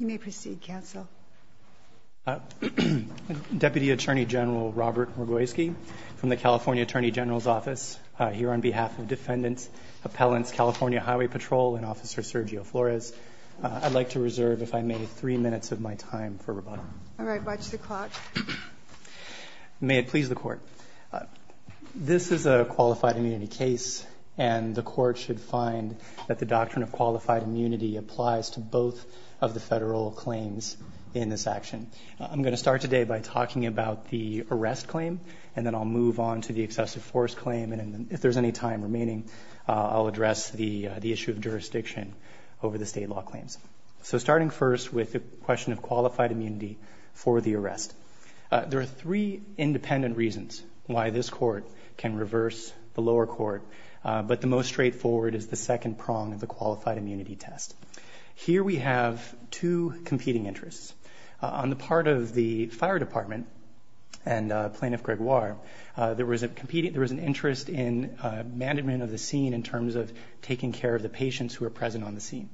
You may proceed counsel Deputy Attorney General Robert Murkowski from the California Attorney General's Office here on behalf of defendants Appellants, California Highway Patrol and officer Sergio Flores. I'd like to reserve if I may three minutes of my time for rebuttal May it please the court This is a qualified immunity case and the court should find that the doctrine of qualified immunity applies to both of the federal claims in this action I'm going to start today by talking about the arrest claim and then I'll move on to the excessive force claim and if there's any Time remaining I'll address the the issue of jurisdiction over the state law claims So starting first with the question of qualified immunity for the arrest There are three independent reasons why this court can reverse the lower court But the most straightforward is the second prong of the qualified immunity test here we have two competing interests on the part of the fire department and Plaintiff Gregoire there was a competing there was an interest in Management of the scene in terms of taking care of the patients who are present on the scene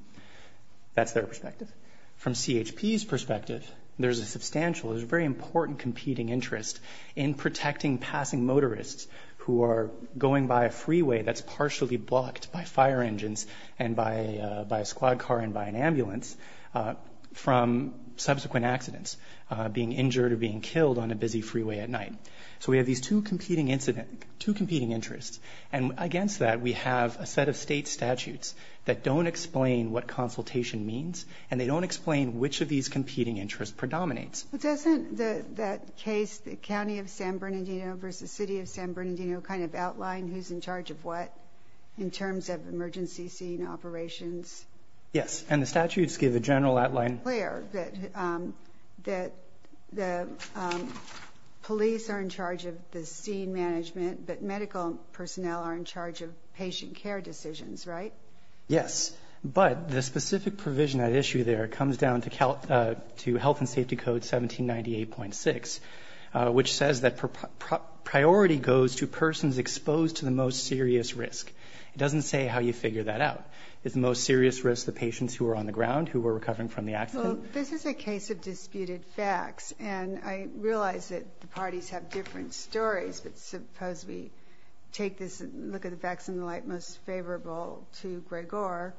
That's their perspective from CHP's perspective There's a substantial is a very important competing interest in protecting passing motorists who are going by a freeway That's partially blocked by fire engines and by by a squad car and by an ambulance from Subsequent accidents being injured or being killed on a busy freeway at night So we have these two competing incident to competing interests and against that we have a set of state statutes That don't explain what consultation means and they don't explain which of these competing interests predominates But doesn't the that case the County of San Bernardino versus City of San Bernardino kind of outline who's in charge of what? In terms of emergency scene operations. Yes, and the statutes give a general outline clear that that the Police are in charge of the scene management, but medical personnel are in charge of patient care decisions, right? Yes, but the specific provision that issue there comes down to count to health and safety code 1798.6 which says that Priority goes to persons exposed to the most serious risk It doesn't say how you figure that out It's the most serious risk the patients who are on the ground who were recovering from the accident This is a case of disputed facts, and I realize that the parties have different stories Suppose we take this look at the facts in the light most favorable to Gregor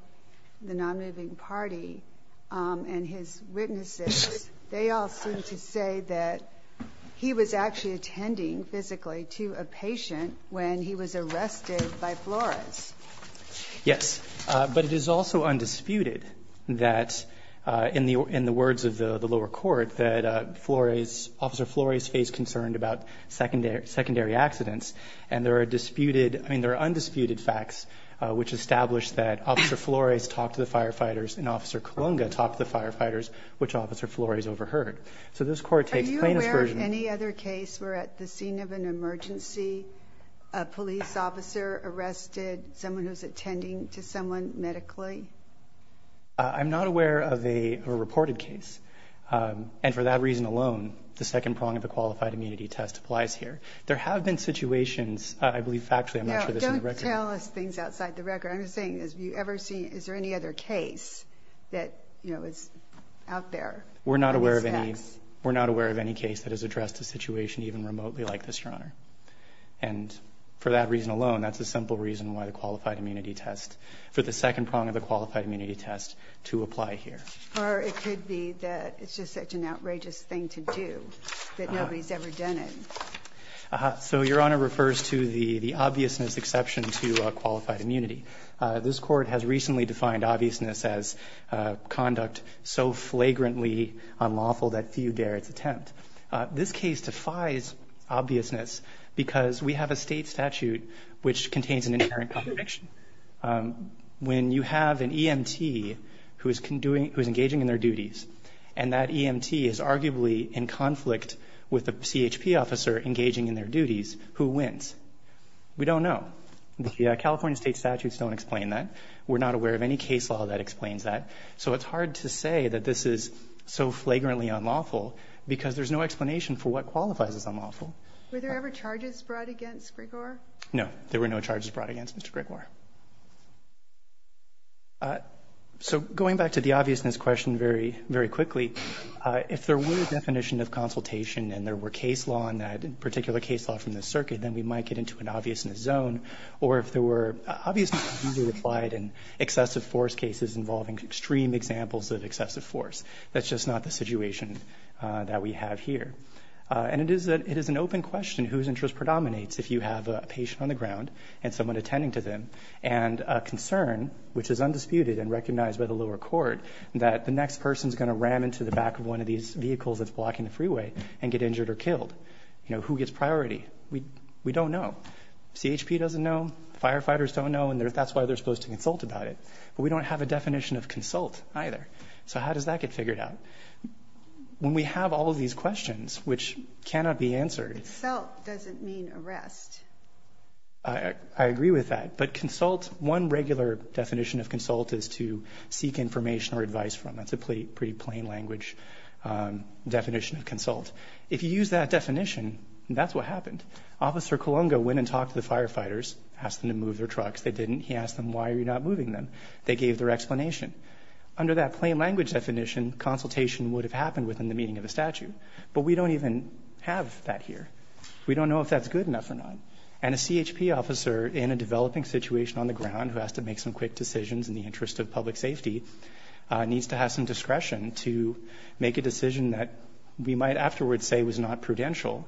the non-moving party and his witnesses they all seem to say that He was actually attending physically to a patient when he was arrested by Flores Yes, but it is also undisputed that In the in the words of the the lower court that Flores officer Flores faced concerned about Secondary secondary accidents and there are disputed I mean there are undisputed facts which established that officer Flores talked to the firefighters and officer Kolunga talked to the firefighters which officer Flores overheard. So this court takes plaintiffs version any other case We're at the scene of an emergency police officer Arrested someone who's attending to someone medically I'm not aware of a reported case And for that reason alone the second prong of the qualified immunity test applies here. There have been situations I believe actually I'm not sure this is reckless things outside the record I'm saying is you ever seen is there any other case that you know, it's out there we're not aware of any we're not aware of any case that has addressed a situation even remotely like this your honor and For that reason alone That's a simple reason why the qualified immunity test for the second prong of the qualified immunity test to apply here Or it could be that it's just such an outrageous thing to do that. Nobody's ever done it So your honor refers to the the obviousness exception to qualified immunity. This court has recently defined obviousness as Conduct so flagrantly unlawful that few dare its attempt this case defies Obviousness because we have a state statute which contains an inherent contradiction when you have an EMT who is can doing who's engaging in their duties and that EMT is arguably in conflict with the CHP officer engaging in their duties who wins We don't know. Yeah, California state statutes don't explain that we're not aware of any case law that explains that so it's hard to say that This is so flagrantly unlawful Because there's no explanation for what qualifies as unlawful. Were there ever charges brought against Gregor? No, there were no charges brought against. Mr. Gregor So going back to the obviousness question very very quickly If there were a definition of consultation and there were case law in that particular case law from the circuit then we might get into an obvious in the zone or if there were Obviously applied in excessive force cases involving extreme examples of excessive force. That's just not the situation that we have here and it is that it is an open question whose interest predominates if you have a patient on the ground and someone attending to them and Concern which is undisputed and recognized by the lower court That the next person is going to ram into the back of one of these vehicles That's blocking the freeway and get injured or killed, you know who gets priority We we don't know CHP doesn't know firefighters don't know and there that's why they're supposed to consult about it But we don't have a definition of consult either. So, how does that get figured out? When we have all of these questions, which cannot be answered I Agree with that but consult one regular definition of consult is to seek information or advice from that's a pretty pretty plain language Definition of consult if you use that definition, that's what happened officer Columbo went and talked to the firefighters asked them to move their trucks. They didn't he asked them. Why are you not moving them? They gave their explanation under that plain language definition Consultation would have happened within the meaning of a statute, but we don't even have that here We don't know if that's good enough or not and a CHP officer in a developing situation On the ground who has to make some quick decisions in the interest of public safety Needs to have some discretion to make a decision that we might afterwards say was not prudential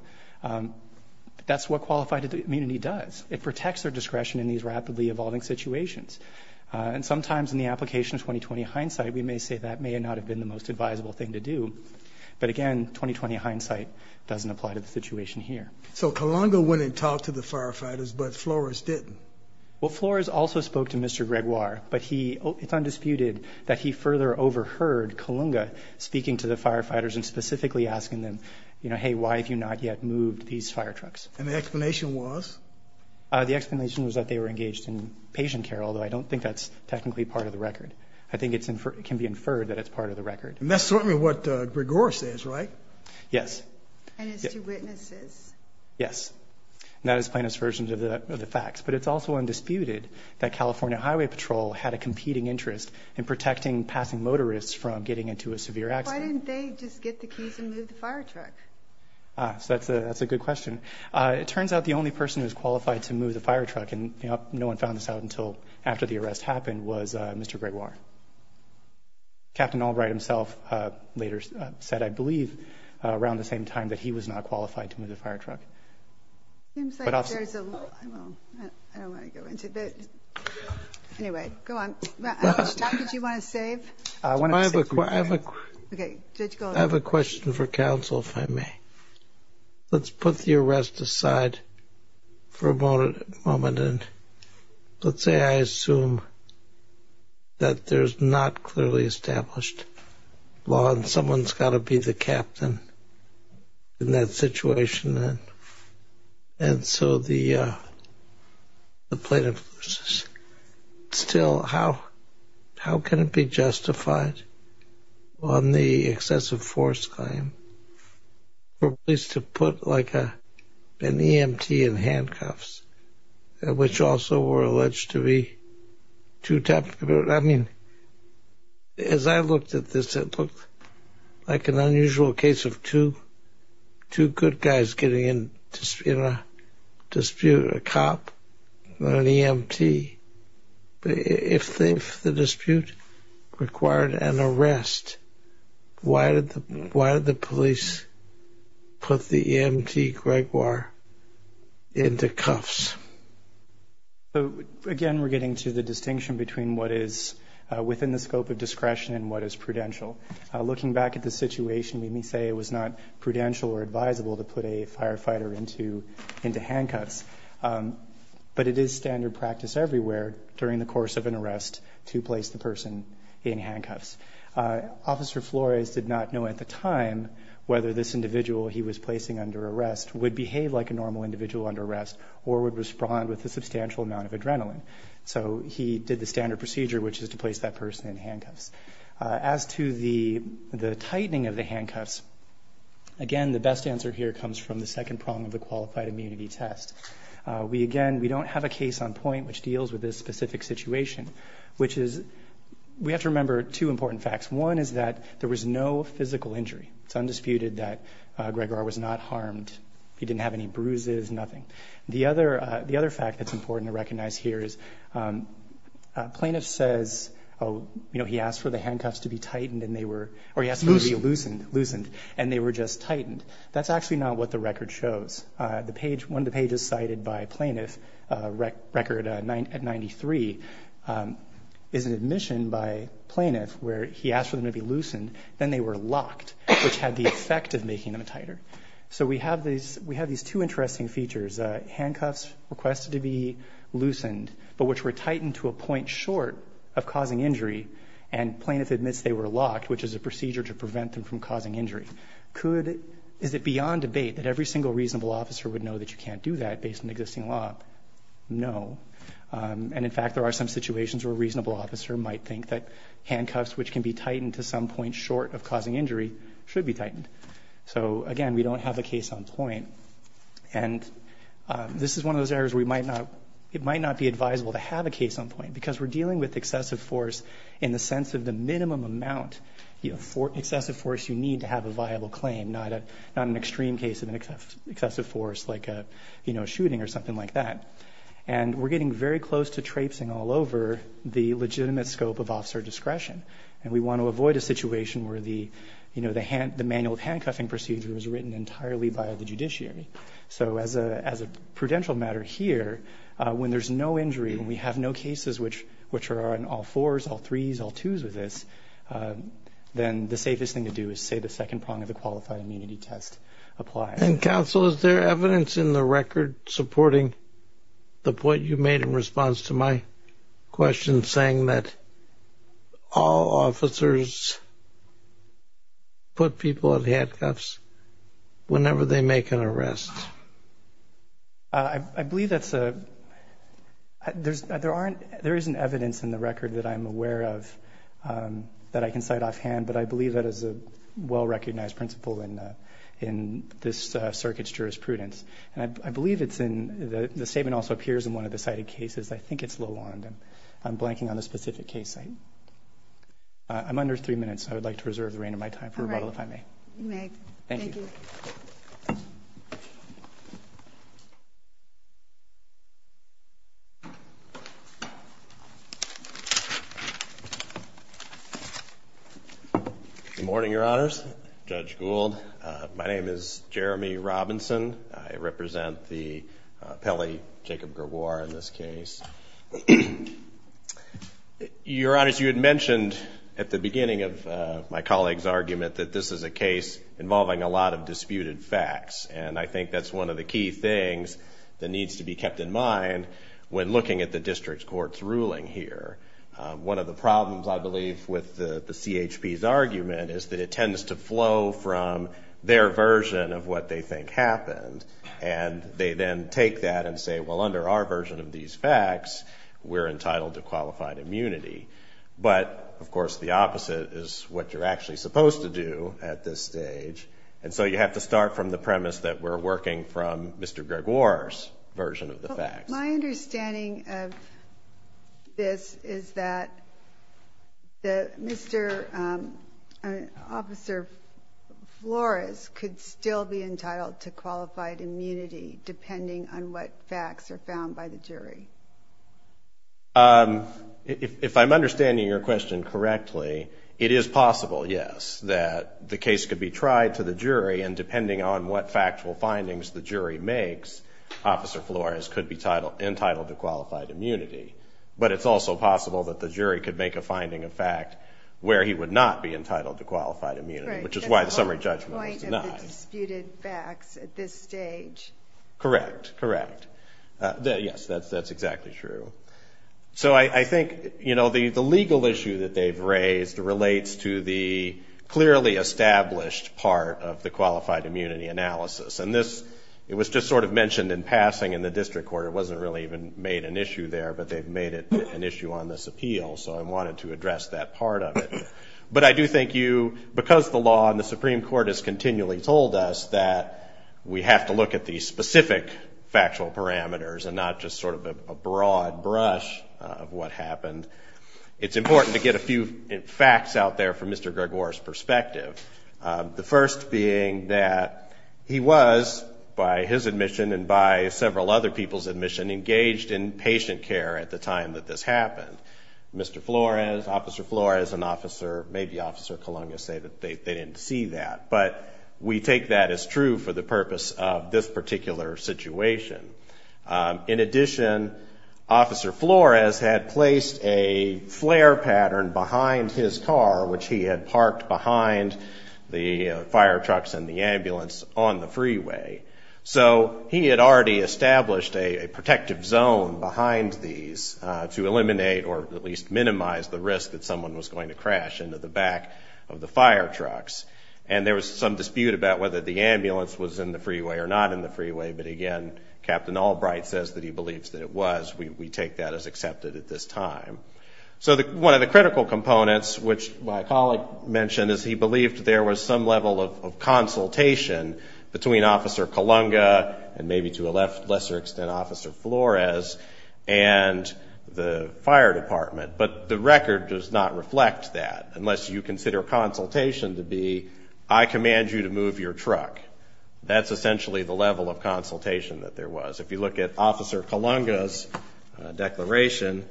That's what qualified immunity does it protects their discretion in these rapidly evolving situations? And sometimes in the application of 2020 hindsight, we may say that may not have been the most advisable thing to do But again 2020 hindsight doesn't apply to the situation here So Colombo wouldn't talk to the firefighters, but Flores didn't well Flores also spoke to mr. Gregoire, but he it's undisputed That he further overheard Columba speaking to the firefighters and specifically asking them, you know Hey, why have you not yet moved these fire trucks and the explanation was? The explanation was that they were engaged in patient care, although I don't think that's technically part of the record I think it's inferred can be inferred that it's part of the record and that's certainly what Gregor says, right? Yes Yes, not as plain as versions of the facts But it's also undisputed that California Highway Patrol had a competing interest in protecting passing motorists from getting into a severe accident So that's a that's a good question It turns out the only person who's qualified to move the fire truck and you know No one found this out until after the arrest happened was mr. Gregoire Captain Albright himself later said I believe around the same time that he was not qualified to move the fire truck I don't want to go into it Anyway, go on. How much time did you want to save? I have a question for counsel if I may Let's put the arrest aside for a moment and Let's say I assume That there's not clearly established law and someone's got to be the captain in that situation and and so the plaintiff Still how how can it be justified on the excessive force claim? for police to put like a an EMT in handcuffs Which also were alleged to be to tap I mean As I looked at this it looked like an unusual case of two two good guys getting in just you know Dispute a cop an EMT if the dispute required an arrest Why did the why did the police? Put the EMT Gregoire into cuffs So again, we're getting to the distinction between what is within the scope of discretion and what is prudential Looking back at the situation. We may say it was not prudential or advisable to put a firefighter into into handcuffs But it is standard practice everywhere during the course of an arrest to place the person in handcuffs Officer Flores did not know at the time Whether this individual he was placing under arrest would behave like a normal individual under arrest or would respond with a substantial amount of adrenaline So he did the standard procedure, which is to place that person in handcuffs as to the the tightening of the handcuffs Again, the best answer here comes from the second prong of the qualified immunity test We again, we don't have a case on point which deals with this specific situation Which is we have to remember two important facts. One is that there was no physical injury. It's undisputed that Gregoire was not harmed. He didn't have any bruises. Nothing. The other the other fact that's important to recognize here is Plaintiff says oh, you know, he asked for the handcuffs to be tightened and they were or yes Loosened loosened and they were just tightened. That's actually not what the record shows the page when the page is cited by plaintiff record at 93 Is an admission by plaintiff where he asked for them to be loosened then they were locked Which had the effect of making them a tighter. So we have these we have these two interesting features handcuffs requested to be loosened but which were tightened to a point short of causing injury and Plaintiff admits they were locked which is a procedure to prevent them from causing injury Could is it beyond debate that every single reasonable officer would know that you can't do that based on existing law? No And in fact, there are some situations where a reasonable officer might think that Handcuffs which can be tightened to some point short of causing injury should be tightened. So again, we don't have a case on point and This is one of those areas We might not it might not be advisable to have a case on point because we're dealing with excessive force in the sense of the minimum amount you know for excessive force you need to have a viable claim not a not an extreme case of an excessive force like a you know shooting or something like that and we're getting very close to traipsing all over the legitimate scope of officer discretion and we want to avoid a situation where the You know the hand the manual of handcuffing procedure was written entirely by the judiciary So as a as a prudential matter here when there's no injury when we have no cases Which which are on all fours all threes all twos with this Then the safest thing to do is say the second prong of the qualified immunity test Apply and counsel is there evidence in the record supporting? the point you made in response to my question saying that all officers Put people at handcuffs whenever they make an arrest I Believe that's a There's there aren't there isn't evidence in the record that I'm aware of That I can cite offhand, but I believe that is a well-recognized principle in in this circuits jurisprudence And I believe it's in the statement also appears in one of the cited cases I think it's low on them. I'm blanking on the specific case. I I'm under three minutes. I would like to reserve the reign of my time for a bottle if I may Good Morning your honors judge Gould. My name is Jeremy Robinson. I represent the Pele Jacob Gerboir in this case Your honors you had mentioned at the beginning of my colleagues argument that this is a case Involving a lot of disputed facts, and I think that's one of the key things that needs to be kept in mind When looking at the district courts ruling here one of the problems I believe with the CHP's argument is that it tends to flow from their version of what they think happened and They then take that and say well under our version of these facts We're entitled to qualified immunity But of course the opposite is what you're actually supposed to do at this stage And so you have to start from the premise that we're working from mr. Greg Wars Version of the fact my understanding of this is that the mr. Officer Flores could still be entitled to qualified immunity depending on what facts are found by the jury If I'm understanding your question correctly it is possible Yes, that the case could be tried to the jury and depending on what factual findings the jury makes Officer Flores could be titled entitled to qualified immunity But it's also possible that the jury could make a finding of fact Where he would not be entitled to qualified immunity, which is why the summary judgment Correct correct Yes, that's that's exactly true so I think you know the the legal issue that they've raised relates to the Clearly established part of the qualified immunity analysis and this it was just sort of mentioned in passing in the district court It wasn't really even made an issue there, but they've made it an issue on this appeal So I wanted to address that part of it But I do think you because the law and the Supreme Court has continually told us that we have to look at these specific Factual parameters and not just sort of a broad brush of what happened. It's important to get a few facts out there from mr. Gregoire's perspective the first being that He was by his admission and by several other people's admission engaged in patient care at the time that this happened Mr. Flores officer Flores an officer maybe officer Columbia say that they didn't see that But we take that as true for the purpose of this particular situation in addition officer Flores had placed a Parked behind the fire trucks and the ambulance on the freeway So he had already established a protective zone behind these to eliminate or at least minimize the risk that someone was going to crash into the back of the fire trucks and There was some dispute about whether the ambulance was in the freeway or not in the freeway But again, Captain Albright says that he believes that it was we take that as accepted at this time So the one of the critical components which my colleague mentioned is he believed there was some level of consultation between officer Columbia and maybe to a left lesser extent officer Flores and The fire department but the record does not reflect that unless you consider a consultation to be I Command you to move your truck. That's essentially the level of consultation that there was if you look at officer Columbia's Declaration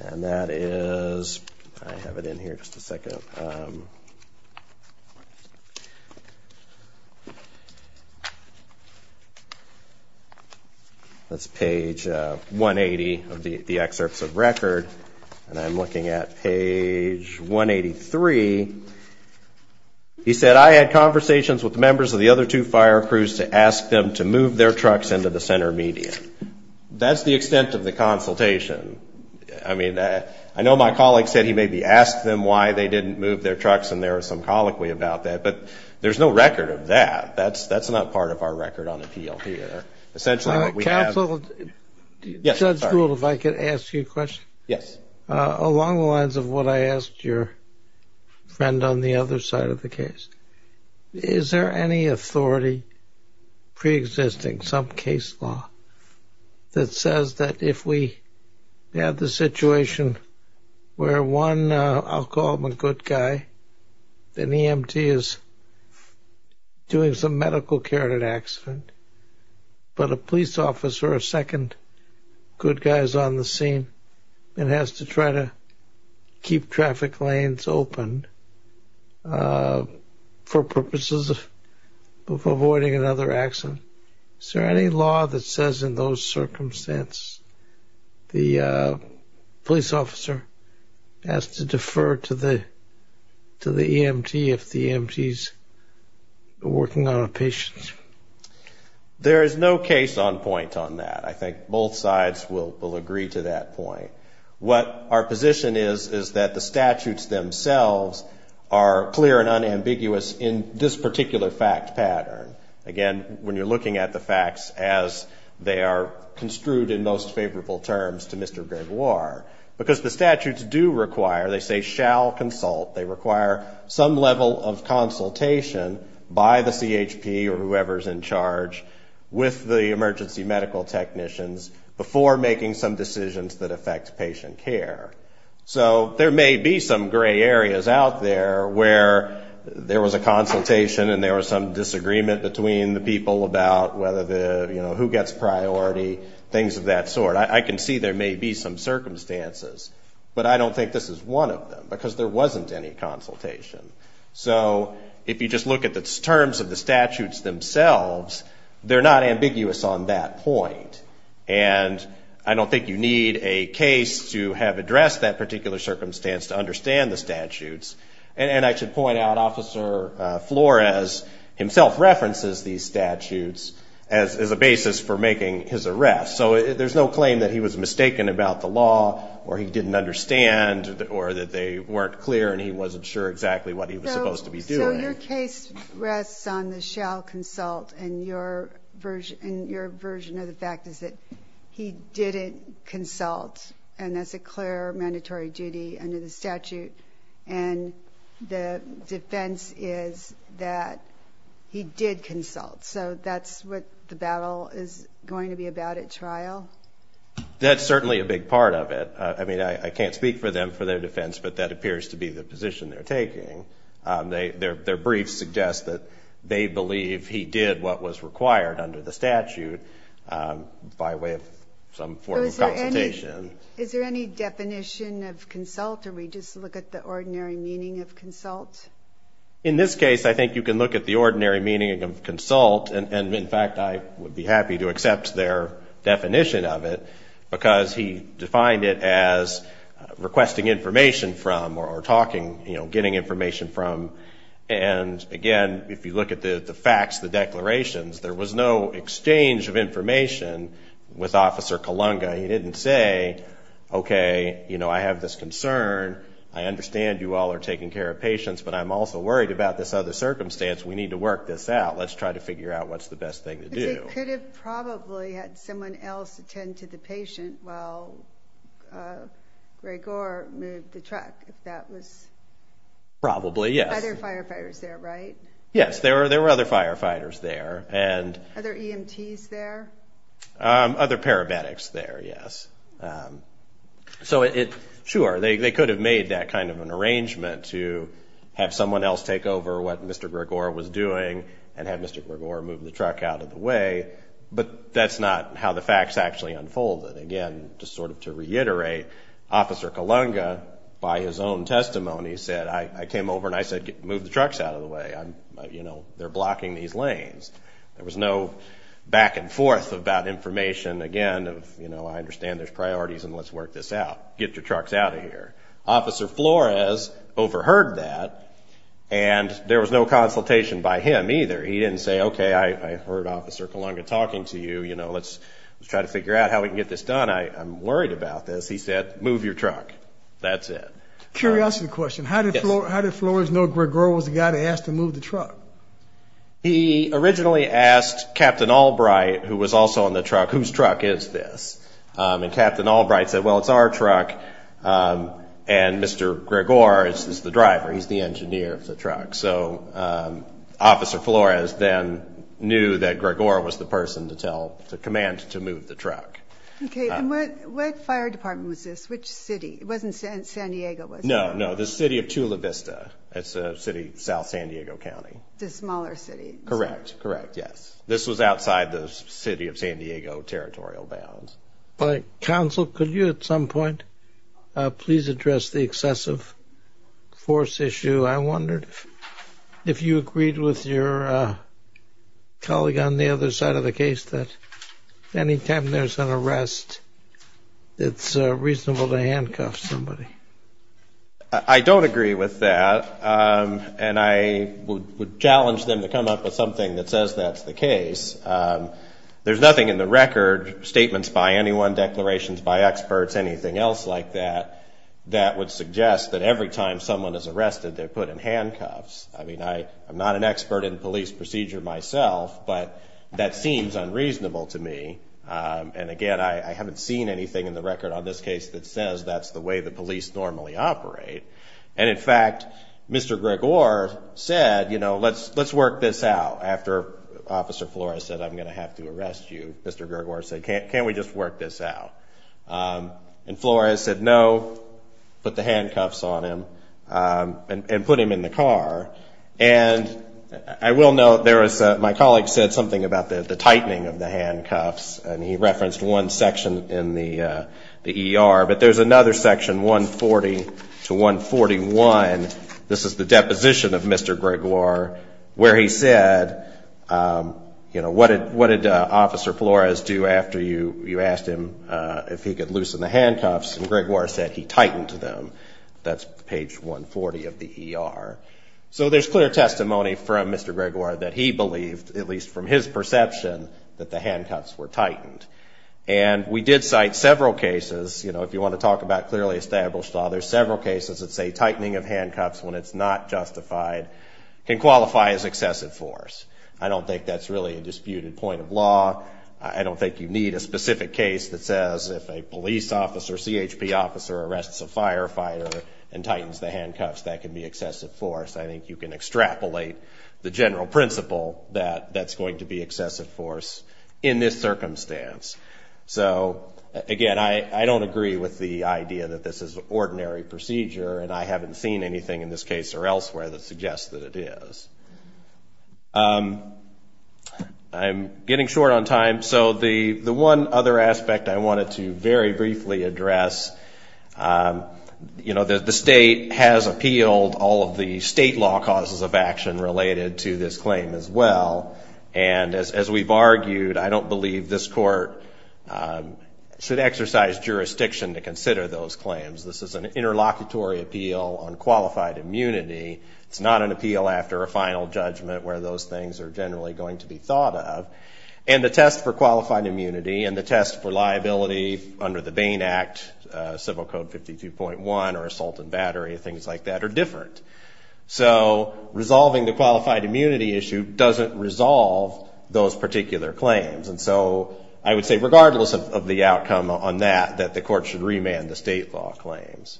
and that is I have it in here just a second That's page 180 of the excerpts of record and I'm looking at page 183 He said I had conversations with the members of the other two fire crews to ask them to move their trucks into the center median That's the extent of the consultation I mean that I know my colleague said he maybe asked them why they didn't move their trucks and there are some colloquy about that But there's no record of that. That's that's not part of our record on appeal here. Essentially what we have Yes, if I could ask you a question. Yes along the lines of what I asked your Friend on the other side of the case Is there any authority? Pre-existing some case law that says that if we Had the situation Where one I'll call him a good guy then EMT is Doing some medical care in an accident But a police officer a second good guys on the scene and has to try to Keep traffic lanes open For purposes of Avoiding another accident. Is there any law that says in those circumstance? the police officer has to defer to the to the EMT if the empties working on a patient There is no case on point on that. I think both sides will will agree to that point What our position is is that the statutes themselves are clear and unambiguous in this particular fact pattern again when you're looking at the facts as They are construed in most favorable terms to mr. Gregoire because the statutes do require they say shall consult they require some level of Consultation by the CHP or whoever's in charge With the emergency medical technicians before making some decisions that affect patient care So there may be some gray areas out there where? There was a consultation and there was some disagreement between the people about whether the you know Who gets priority things of that sort? I can see there may be some circumstances But I don't think this is one of them because there wasn't any consultation So if you just look at the terms of the statutes themselves They're not ambiguous on that point And I don't think you need a case to have addressed that particular circumstance to understand the statutes And I should point out officer Flores himself references these statutes as a basis for making his arrest So there's no claim that he was mistaken about the law or he didn't understand Or that they weren't clear and he wasn't sure exactly what he was supposed to be doing Rests on the shall consult and your version and your version of the fact is that he didn't consult and that's a clear mandatory duty under the statute and the defense is that He did consult so that's what the battle is going to be about at trial That's certainly a big part of it. I mean, I can't speak for them for their defense But that appears to be the position they're taking They their briefs suggest that they believe he did what was required under the statute by way of some Consultation is there any definition of consult or we just look at the ordinary meaning of consult in this case I think you can look at the ordinary meaning of consult and in fact, I would be happy to accept their definition of it because he defined it as Requesting information from or talking, you know getting information from and Again, if you look at the the facts the declarations, there was no exchange of information with officer Kalunga. He didn't say Okay, you know I have this concern. I understand you all are taking care of patients, but I'm also worried about this other circumstance We need to work this out. Let's try to figure out what's the best thing to do It could have probably had someone else attend to the patient. Well Gregor moved the truck if that was Probably. Yes other firefighters there, right? Yes. There are there were other firefighters there and other EMTs there Other paramedics there. Yes So it sure they could have made that kind of an arrangement to have someone else take over what mr Gregor was doing and have mr. Gregor move the truck out of the way But that's not how the facts actually unfolded again just sort of to reiterate Officer Kalunga by his own testimony said I came over and I said get move the trucks out of the way I'm you know, they're blocking these lanes. There was no Back-and-forth about information again of you know, I understand there's priorities and let's work this out get your trucks out of here officer Flores overheard that and There was no consultation by him either. He didn't say okay. I heard officer Kalunga talking to you, you know Let's try to figure out how we can get this done. I'm worried about this. He said move your truck. That's it Curiosity question. How did Flores know Gregor was the guy to ask to move the truck? He originally asked captain Albright who was also on the truck. Whose truck is this? And captain Albright said well, it's our truck And mr. Gregor is the driver. He's the engineer of the truck so Officer Flores then knew that Gregor was the person to tell the command to move the truck Okay, and what what fire department was this which city it wasn't San Diego was no No, the city of Chula Vista. It's a city, South San Diego County the smaller city, correct? Correct? Yes, this was outside the city of San Diego territorial bounds, but council could you at some point? Please address the excessive Force issue. I wondered if you agreed with your Colleague on the other side of the case that Anytime there's an arrest It's reasonable to handcuff somebody. I Don't agree with that And I would challenge them to come up with something that says that's the case There's nothing in the record Statements by anyone declarations by experts anything else like that That would suggest that every time someone is arrested they're put in handcuffs I mean, I I'm not an expert in police procedure myself, but that seems unreasonable to me And again, I haven't seen anything in the record on this case that says that's the way the police normally operate and in fact Mr. Gregor said, you know, let's let's work this out after Officer Flores said I'm gonna have to arrest you. Mr. Gregor said can't can we just work this out? And Flores said no Put the handcuffs on him and put him in the car and I will know there was my colleague said something about the the tightening of the handcuffs and he referenced one section in the Er, but there's another section 140 to 141. This is the deposition of mr. Gregor where he said You know, what did what did officer Flores do after you you asked him if he could loosen the handcuffs and Gregor said? He tightened to them. That's page 140 of the ER So there's clear testimony from mr. Gregor that he believed at least from his perception that the handcuffs were tightened and We did cite several cases You know If you want to talk about clearly established law, there's several cases that say tightening of handcuffs when it's not justified Can qualify as excessive force. I don't think that's really a disputed point of law I don't think you need a specific case that says if a police officer CHP officer arrests a firefighter and Tightens the handcuffs that can be excessive force I think you can extrapolate the general principle that that's going to be excessive force in this circumstance So again, I I don't agree with the idea that this is ordinary procedure And I haven't seen anything in this case or elsewhere that suggests that it is I'm getting short on time. So the the one other aspect I wanted to very briefly address You know that the state has appealed all of the state law causes of action related to this claim as well and As we've argued I don't believe this court Should exercise jurisdiction to consider those claims. This is an interlocutory appeal on qualified immunity it's not an appeal after a final judgment where those things are generally going to be thought of and The test for qualified immunity and the test for liability under the Bain Act civil code 52.1 or assault and battery things like that are different So resolving the qualified immunity issue doesn't resolve those particular claims And so I would say regardless of the outcome on that that the court should remand the state law claims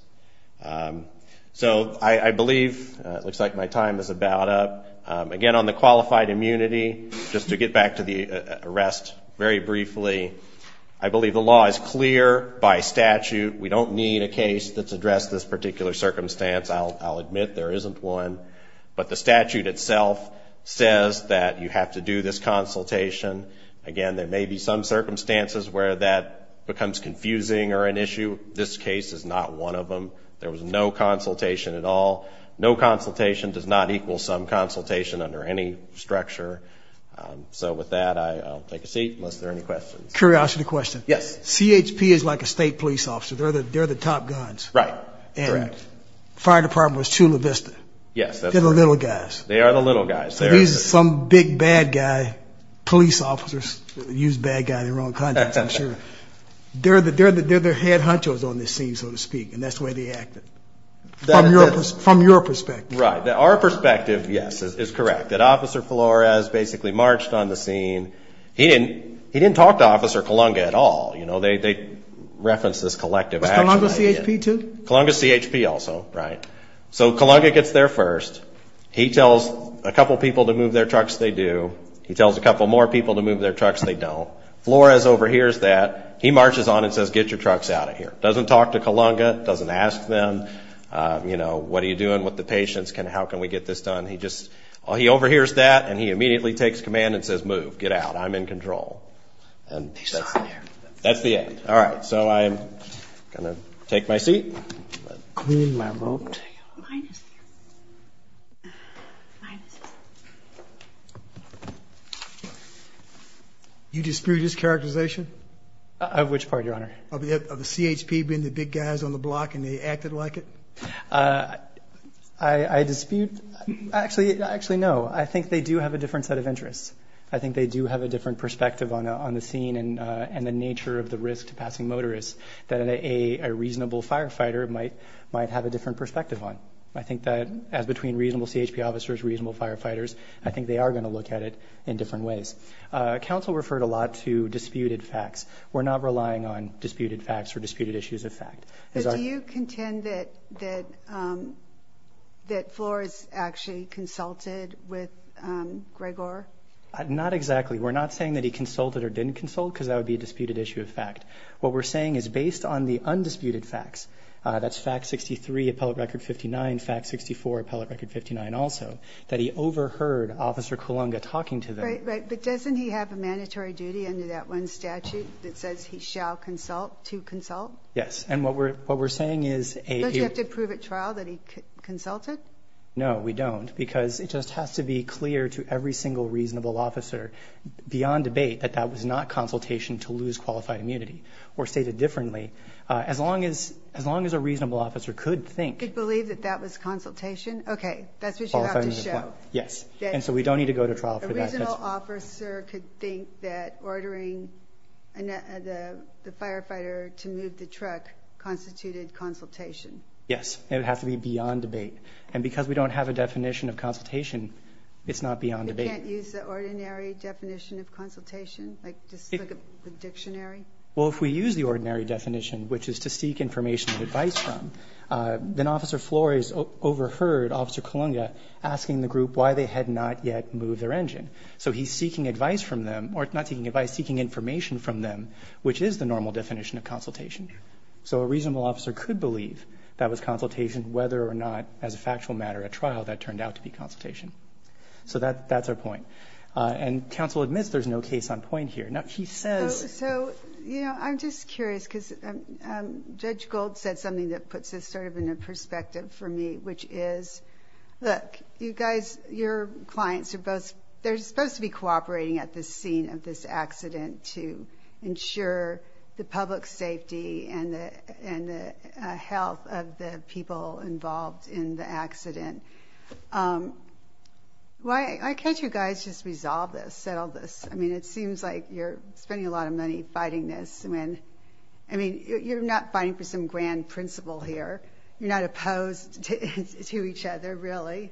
So, I I believe it looks like my time is about up again on the qualified immunity Just to get back to the arrest very briefly. I believe the law is clear by statute We don't need a case that's addressed this particular circumstance I'll admit there isn't one but the statute itself says that you have to do this consultation Again, there may be some circumstances where that becomes confusing or an issue. This case is not one of them There was no consultation at all. No consultation does not equal some consultation under any structure So with that, I'll take a seat unless there any questions curiosity question. Yes. CHP is like a state police officer They're the they're the top guns, right? Fire department was Chula Vista. Yes, little guys. They are the little guys. There's some big bad guy Police officers use bad guy in their own country. I'm sure They're the dare that they're their head hunters on this scene so to speak and that's the way they acted That I'm your from your perspective, right that our perspective. Yes is correct that officer Flores basically marched on the scene He didn't he didn't talk to officer Kalunga at all. You know, they Reference this collective. I'm gonna see HP to Kalunga CHP also, right? So Kalunga gets there first He tells a couple people to move their trucks they do he tells a couple more people to move their trucks They don't Flores overhears that he marches on and says get your trucks out of here doesn't talk to Kalunga doesn't ask them You know, what are you doing with the patients? Can how can we get this done? He just he overhears that and he immediately takes command and says move get out. I'm in control and That's the end. All right, so I'm gonna take my seat I You dispute his characterization Of which part your honor of the CHP being the big guys on the block and they acted like it. I Dispute actually actually no, I think they do have a different set of interests I think they do have a different perspective on on the scene and and the nature of the risk to passing motorists that a Reasonable firefighter it might might have a different perspective on I think that as between reasonable CHP officers reasonable firefighters I think they are going to look at it in different ways Council referred a lot to disputed facts. We're not relying on disputed facts or disputed issues of fact That floor is actually consulted with Gregor I'm not exactly we're not saying that he consulted or didn't consult because that would be a disputed issue of fact What we're saying is based on the undisputed facts That's fact 63 appellate record 59 fact 64 appellate record 59 also that he overheard officer Kalunga talking to the right, but doesn't he have a mandatory duty under that one statute that says he shall consult to consult Yes, and what we're what we're saying is a you have to prove it trial that he consulted No, we don't because it just has to be clear to every single reasonable officer Beyond debate that that was not consultation to lose qualified immunity or stated differently As long as as long as a reasonable officer could think could believe that that was consultation. Okay, that's what you have to show Yes, and so we don't need to go to trial for that Officer could think that ordering and the the firefighter to move the truck Constituted consultation. Yes, it has to be beyond debate and because we don't have a definition of consultation It's not beyond debate Well, if we use the ordinary definition which is to seek information advice from Then officer Flores overheard officer Kalunga asking the group why they had not yet moved their engine So he's seeking advice from them or not seeking advice seeking information from them, which is the normal definition of consultation So a reasonable officer could believe that was consultation whether or not as a factual matter at trial that turned out to be consultation So that that's our point and counsel admits. There's no case on point here. Now. She says so, you know, I'm just curious because Judge gold said something that puts this sort of in a perspective for me, which is Look you guys your clients are both they're supposed to be cooperating at this scene of this accident to ensure the public safety and the and the health of the people involved in the accident Why I can't you guys just resolve this settle this I mean it seems like you're spending a lot of money fighting this and when I Mean, you're not fighting for some grand principle here. You're not opposed to each other. Really?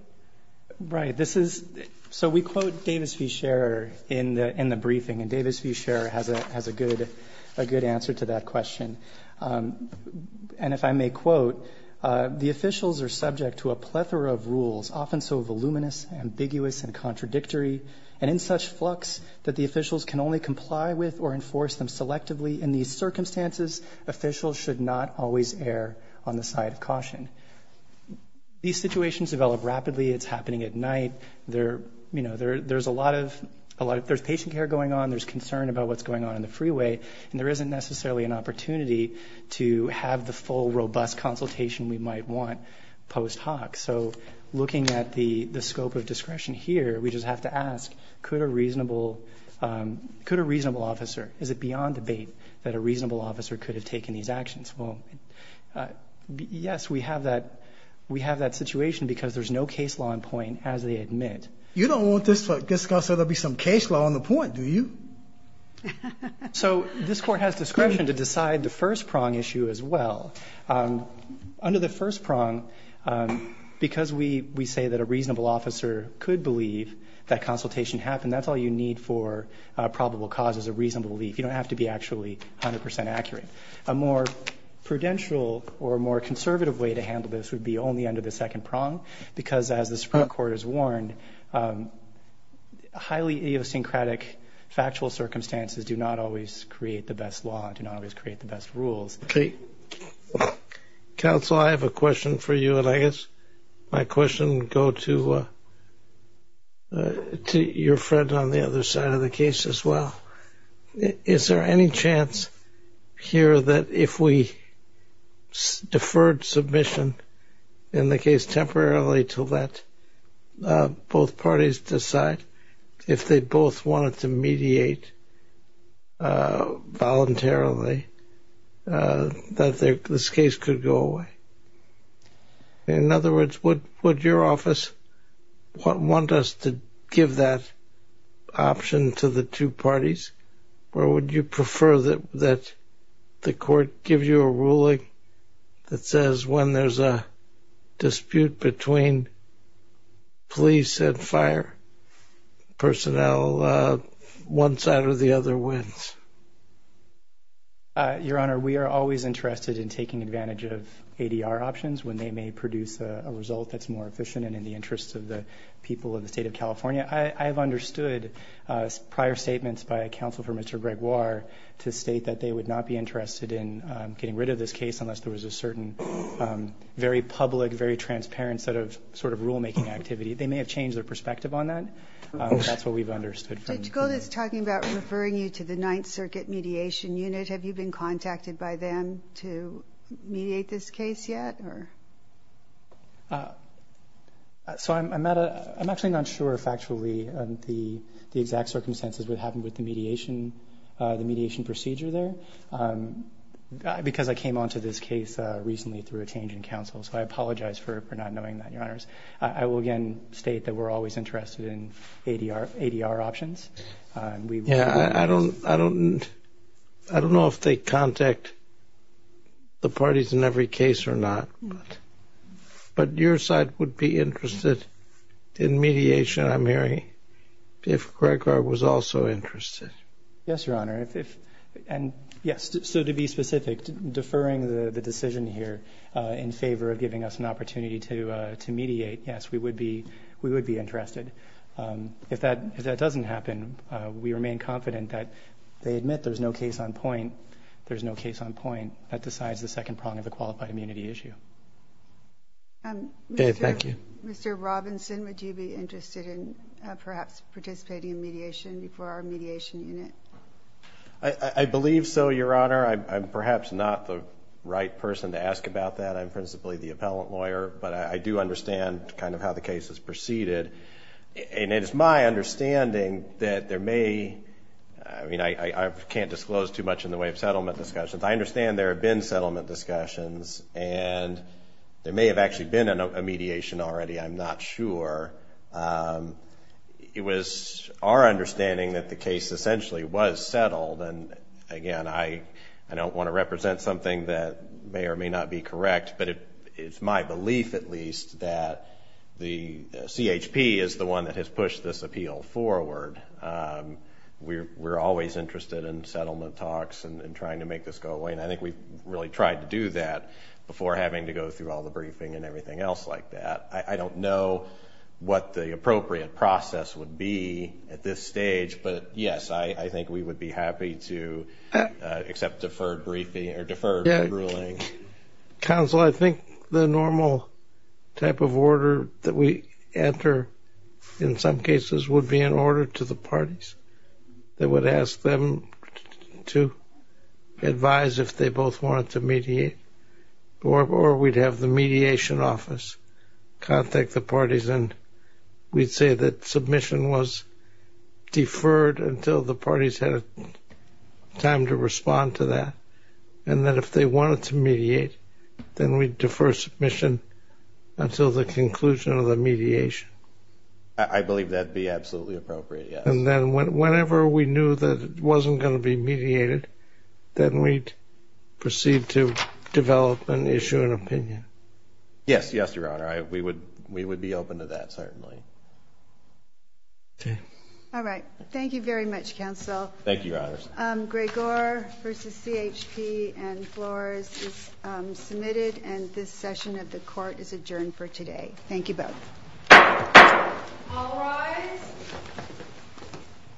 Right. This is so we quote Davis v. Scherer in the in the briefing and Davis v. Scherer has a has a good a good answer to that question and if I may quote The officials are subject to a plethora of rules often So voluminous ambiguous and contradictory and in such flux that the officials can only comply with or enforce them selectively in these circumstances Officials should not always err on the side of caution These situations develop rapidly. It's happening at night there You know, there there's a lot of a lot of there's patient care going on There's concern about what's going on in the freeway and there isn't necessarily an opportunity to have the full robust Consultation we might want post hoc. So looking at the the scope of discretion here. We just have to ask could a reasonable Could a reasonable officer is it beyond debate that a reasonable officer could have taken these actions? Well Yes, we have that we have that situation because there's no case law in point as they admit You don't want this to discuss it'll be some case law on the point. Do you? So this court has discretion to decide the first prong issue as well Under the first prong Because we we say that a reasonable officer could believe that consultation happened. That's all you need for Probable cause is a reasonable belief. You don't have to be actually 100% accurate a more Prudential or a more conservative way to handle this would be only under the second prong because as the Supreme Court is warned Highly idiosyncratic factual circumstances do not always create the best law and do not always create the best rules, okay Counsel I have a question for you and I guess my question go to To your friend on the other side of the case as well, is there any chance here that if we Deferred submission in the case temporarily to let Both parties decide if they both wanted to mediate Voluntarily That this case could go away In other words, what would your office? What want us to give that? option to the two parties or would you prefer that that the court give you a ruling that says when there's a dispute between police and fire personnel one side or the other wins Your honor, we are always interested in taking advantage of ADR options when they may produce a result That's more efficient and in the interests of the people of the state of California. I have understood Prior statements by a counsel for mr Gregoire to state that they would not be interested in getting rid of this case unless there was a certain Very public very transparent set of sort of rulemaking activity. They may have changed their perspective on that We've understood it's talking about referring you to the Ninth Circuit mediation unit. Have you been contacted by them to mediate this case yet or So I'm at a I'm actually not sure if actually the the exact circumstances would happen with the mediation the mediation procedure there Because I came on to this case recently through a change in counsel, so I apologize for not knowing that your honors I will again state that we're always interested in ADR ADR options We yeah, I don't I don't I don't know if they contact the parties in every case or not, but But your side would be interested in mediation. I'm hearing if Gregor was also interested Yes, your honor if and yes To be specific deferring the the decision here in favor of giving us an opportunity to to mediate Yes, we would be we would be interested If that if that doesn't happen, we remain confident that they admit there's no case on point There's no case on point that decides the second prong of the qualified immunity issue Okay, thank you, mr. Robinson, would you be interested in perhaps participating in mediation before our mediation unit I Believe so your honor. I'm perhaps not the right person to ask about that I'm principally the appellant lawyer, but I do understand kind of how the case is preceded And it's my understanding that there may I mean, I can't disclose too much in the way of settlement discussions I understand there have been settlement discussions and There may have actually been a mediation already. I'm not sure It was our understanding that the case essentially was settled and again I I don't want to represent something that may or may not be correct But it it's my belief at least that the CHP is the one that has pushed this appeal forward We're we're always interested in settlement talks and trying to make this go away And I think we've really tried to do that before having to go through all the briefing and everything else like that I don't know what the appropriate process would be at this stage. But yes, I I think we would be happy to accept deferred briefing or deferred ruling Council, I think the normal Type of order that we enter in some cases would be in order to the parties They would ask them to Advise if they both wanted to mediate Or we'd have the mediation office Contact the parties and we'd say that submission was deferred until the parties had a Time to respond to that and that if they wanted to mediate then we'd defer submission until the conclusion of the mediation I Believe that be absolutely appropriate. And then whenever we knew that it wasn't going to be mediated then we'd Proceed to develop an issue an opinion Yes, yes, your honor I we would we would be open to that certainly Okay. All right. Thank you very much counsel. Thank you. Your honor's Gregor versus CHP and floors Submitted and this session of the court is adjourned for today. Thank you both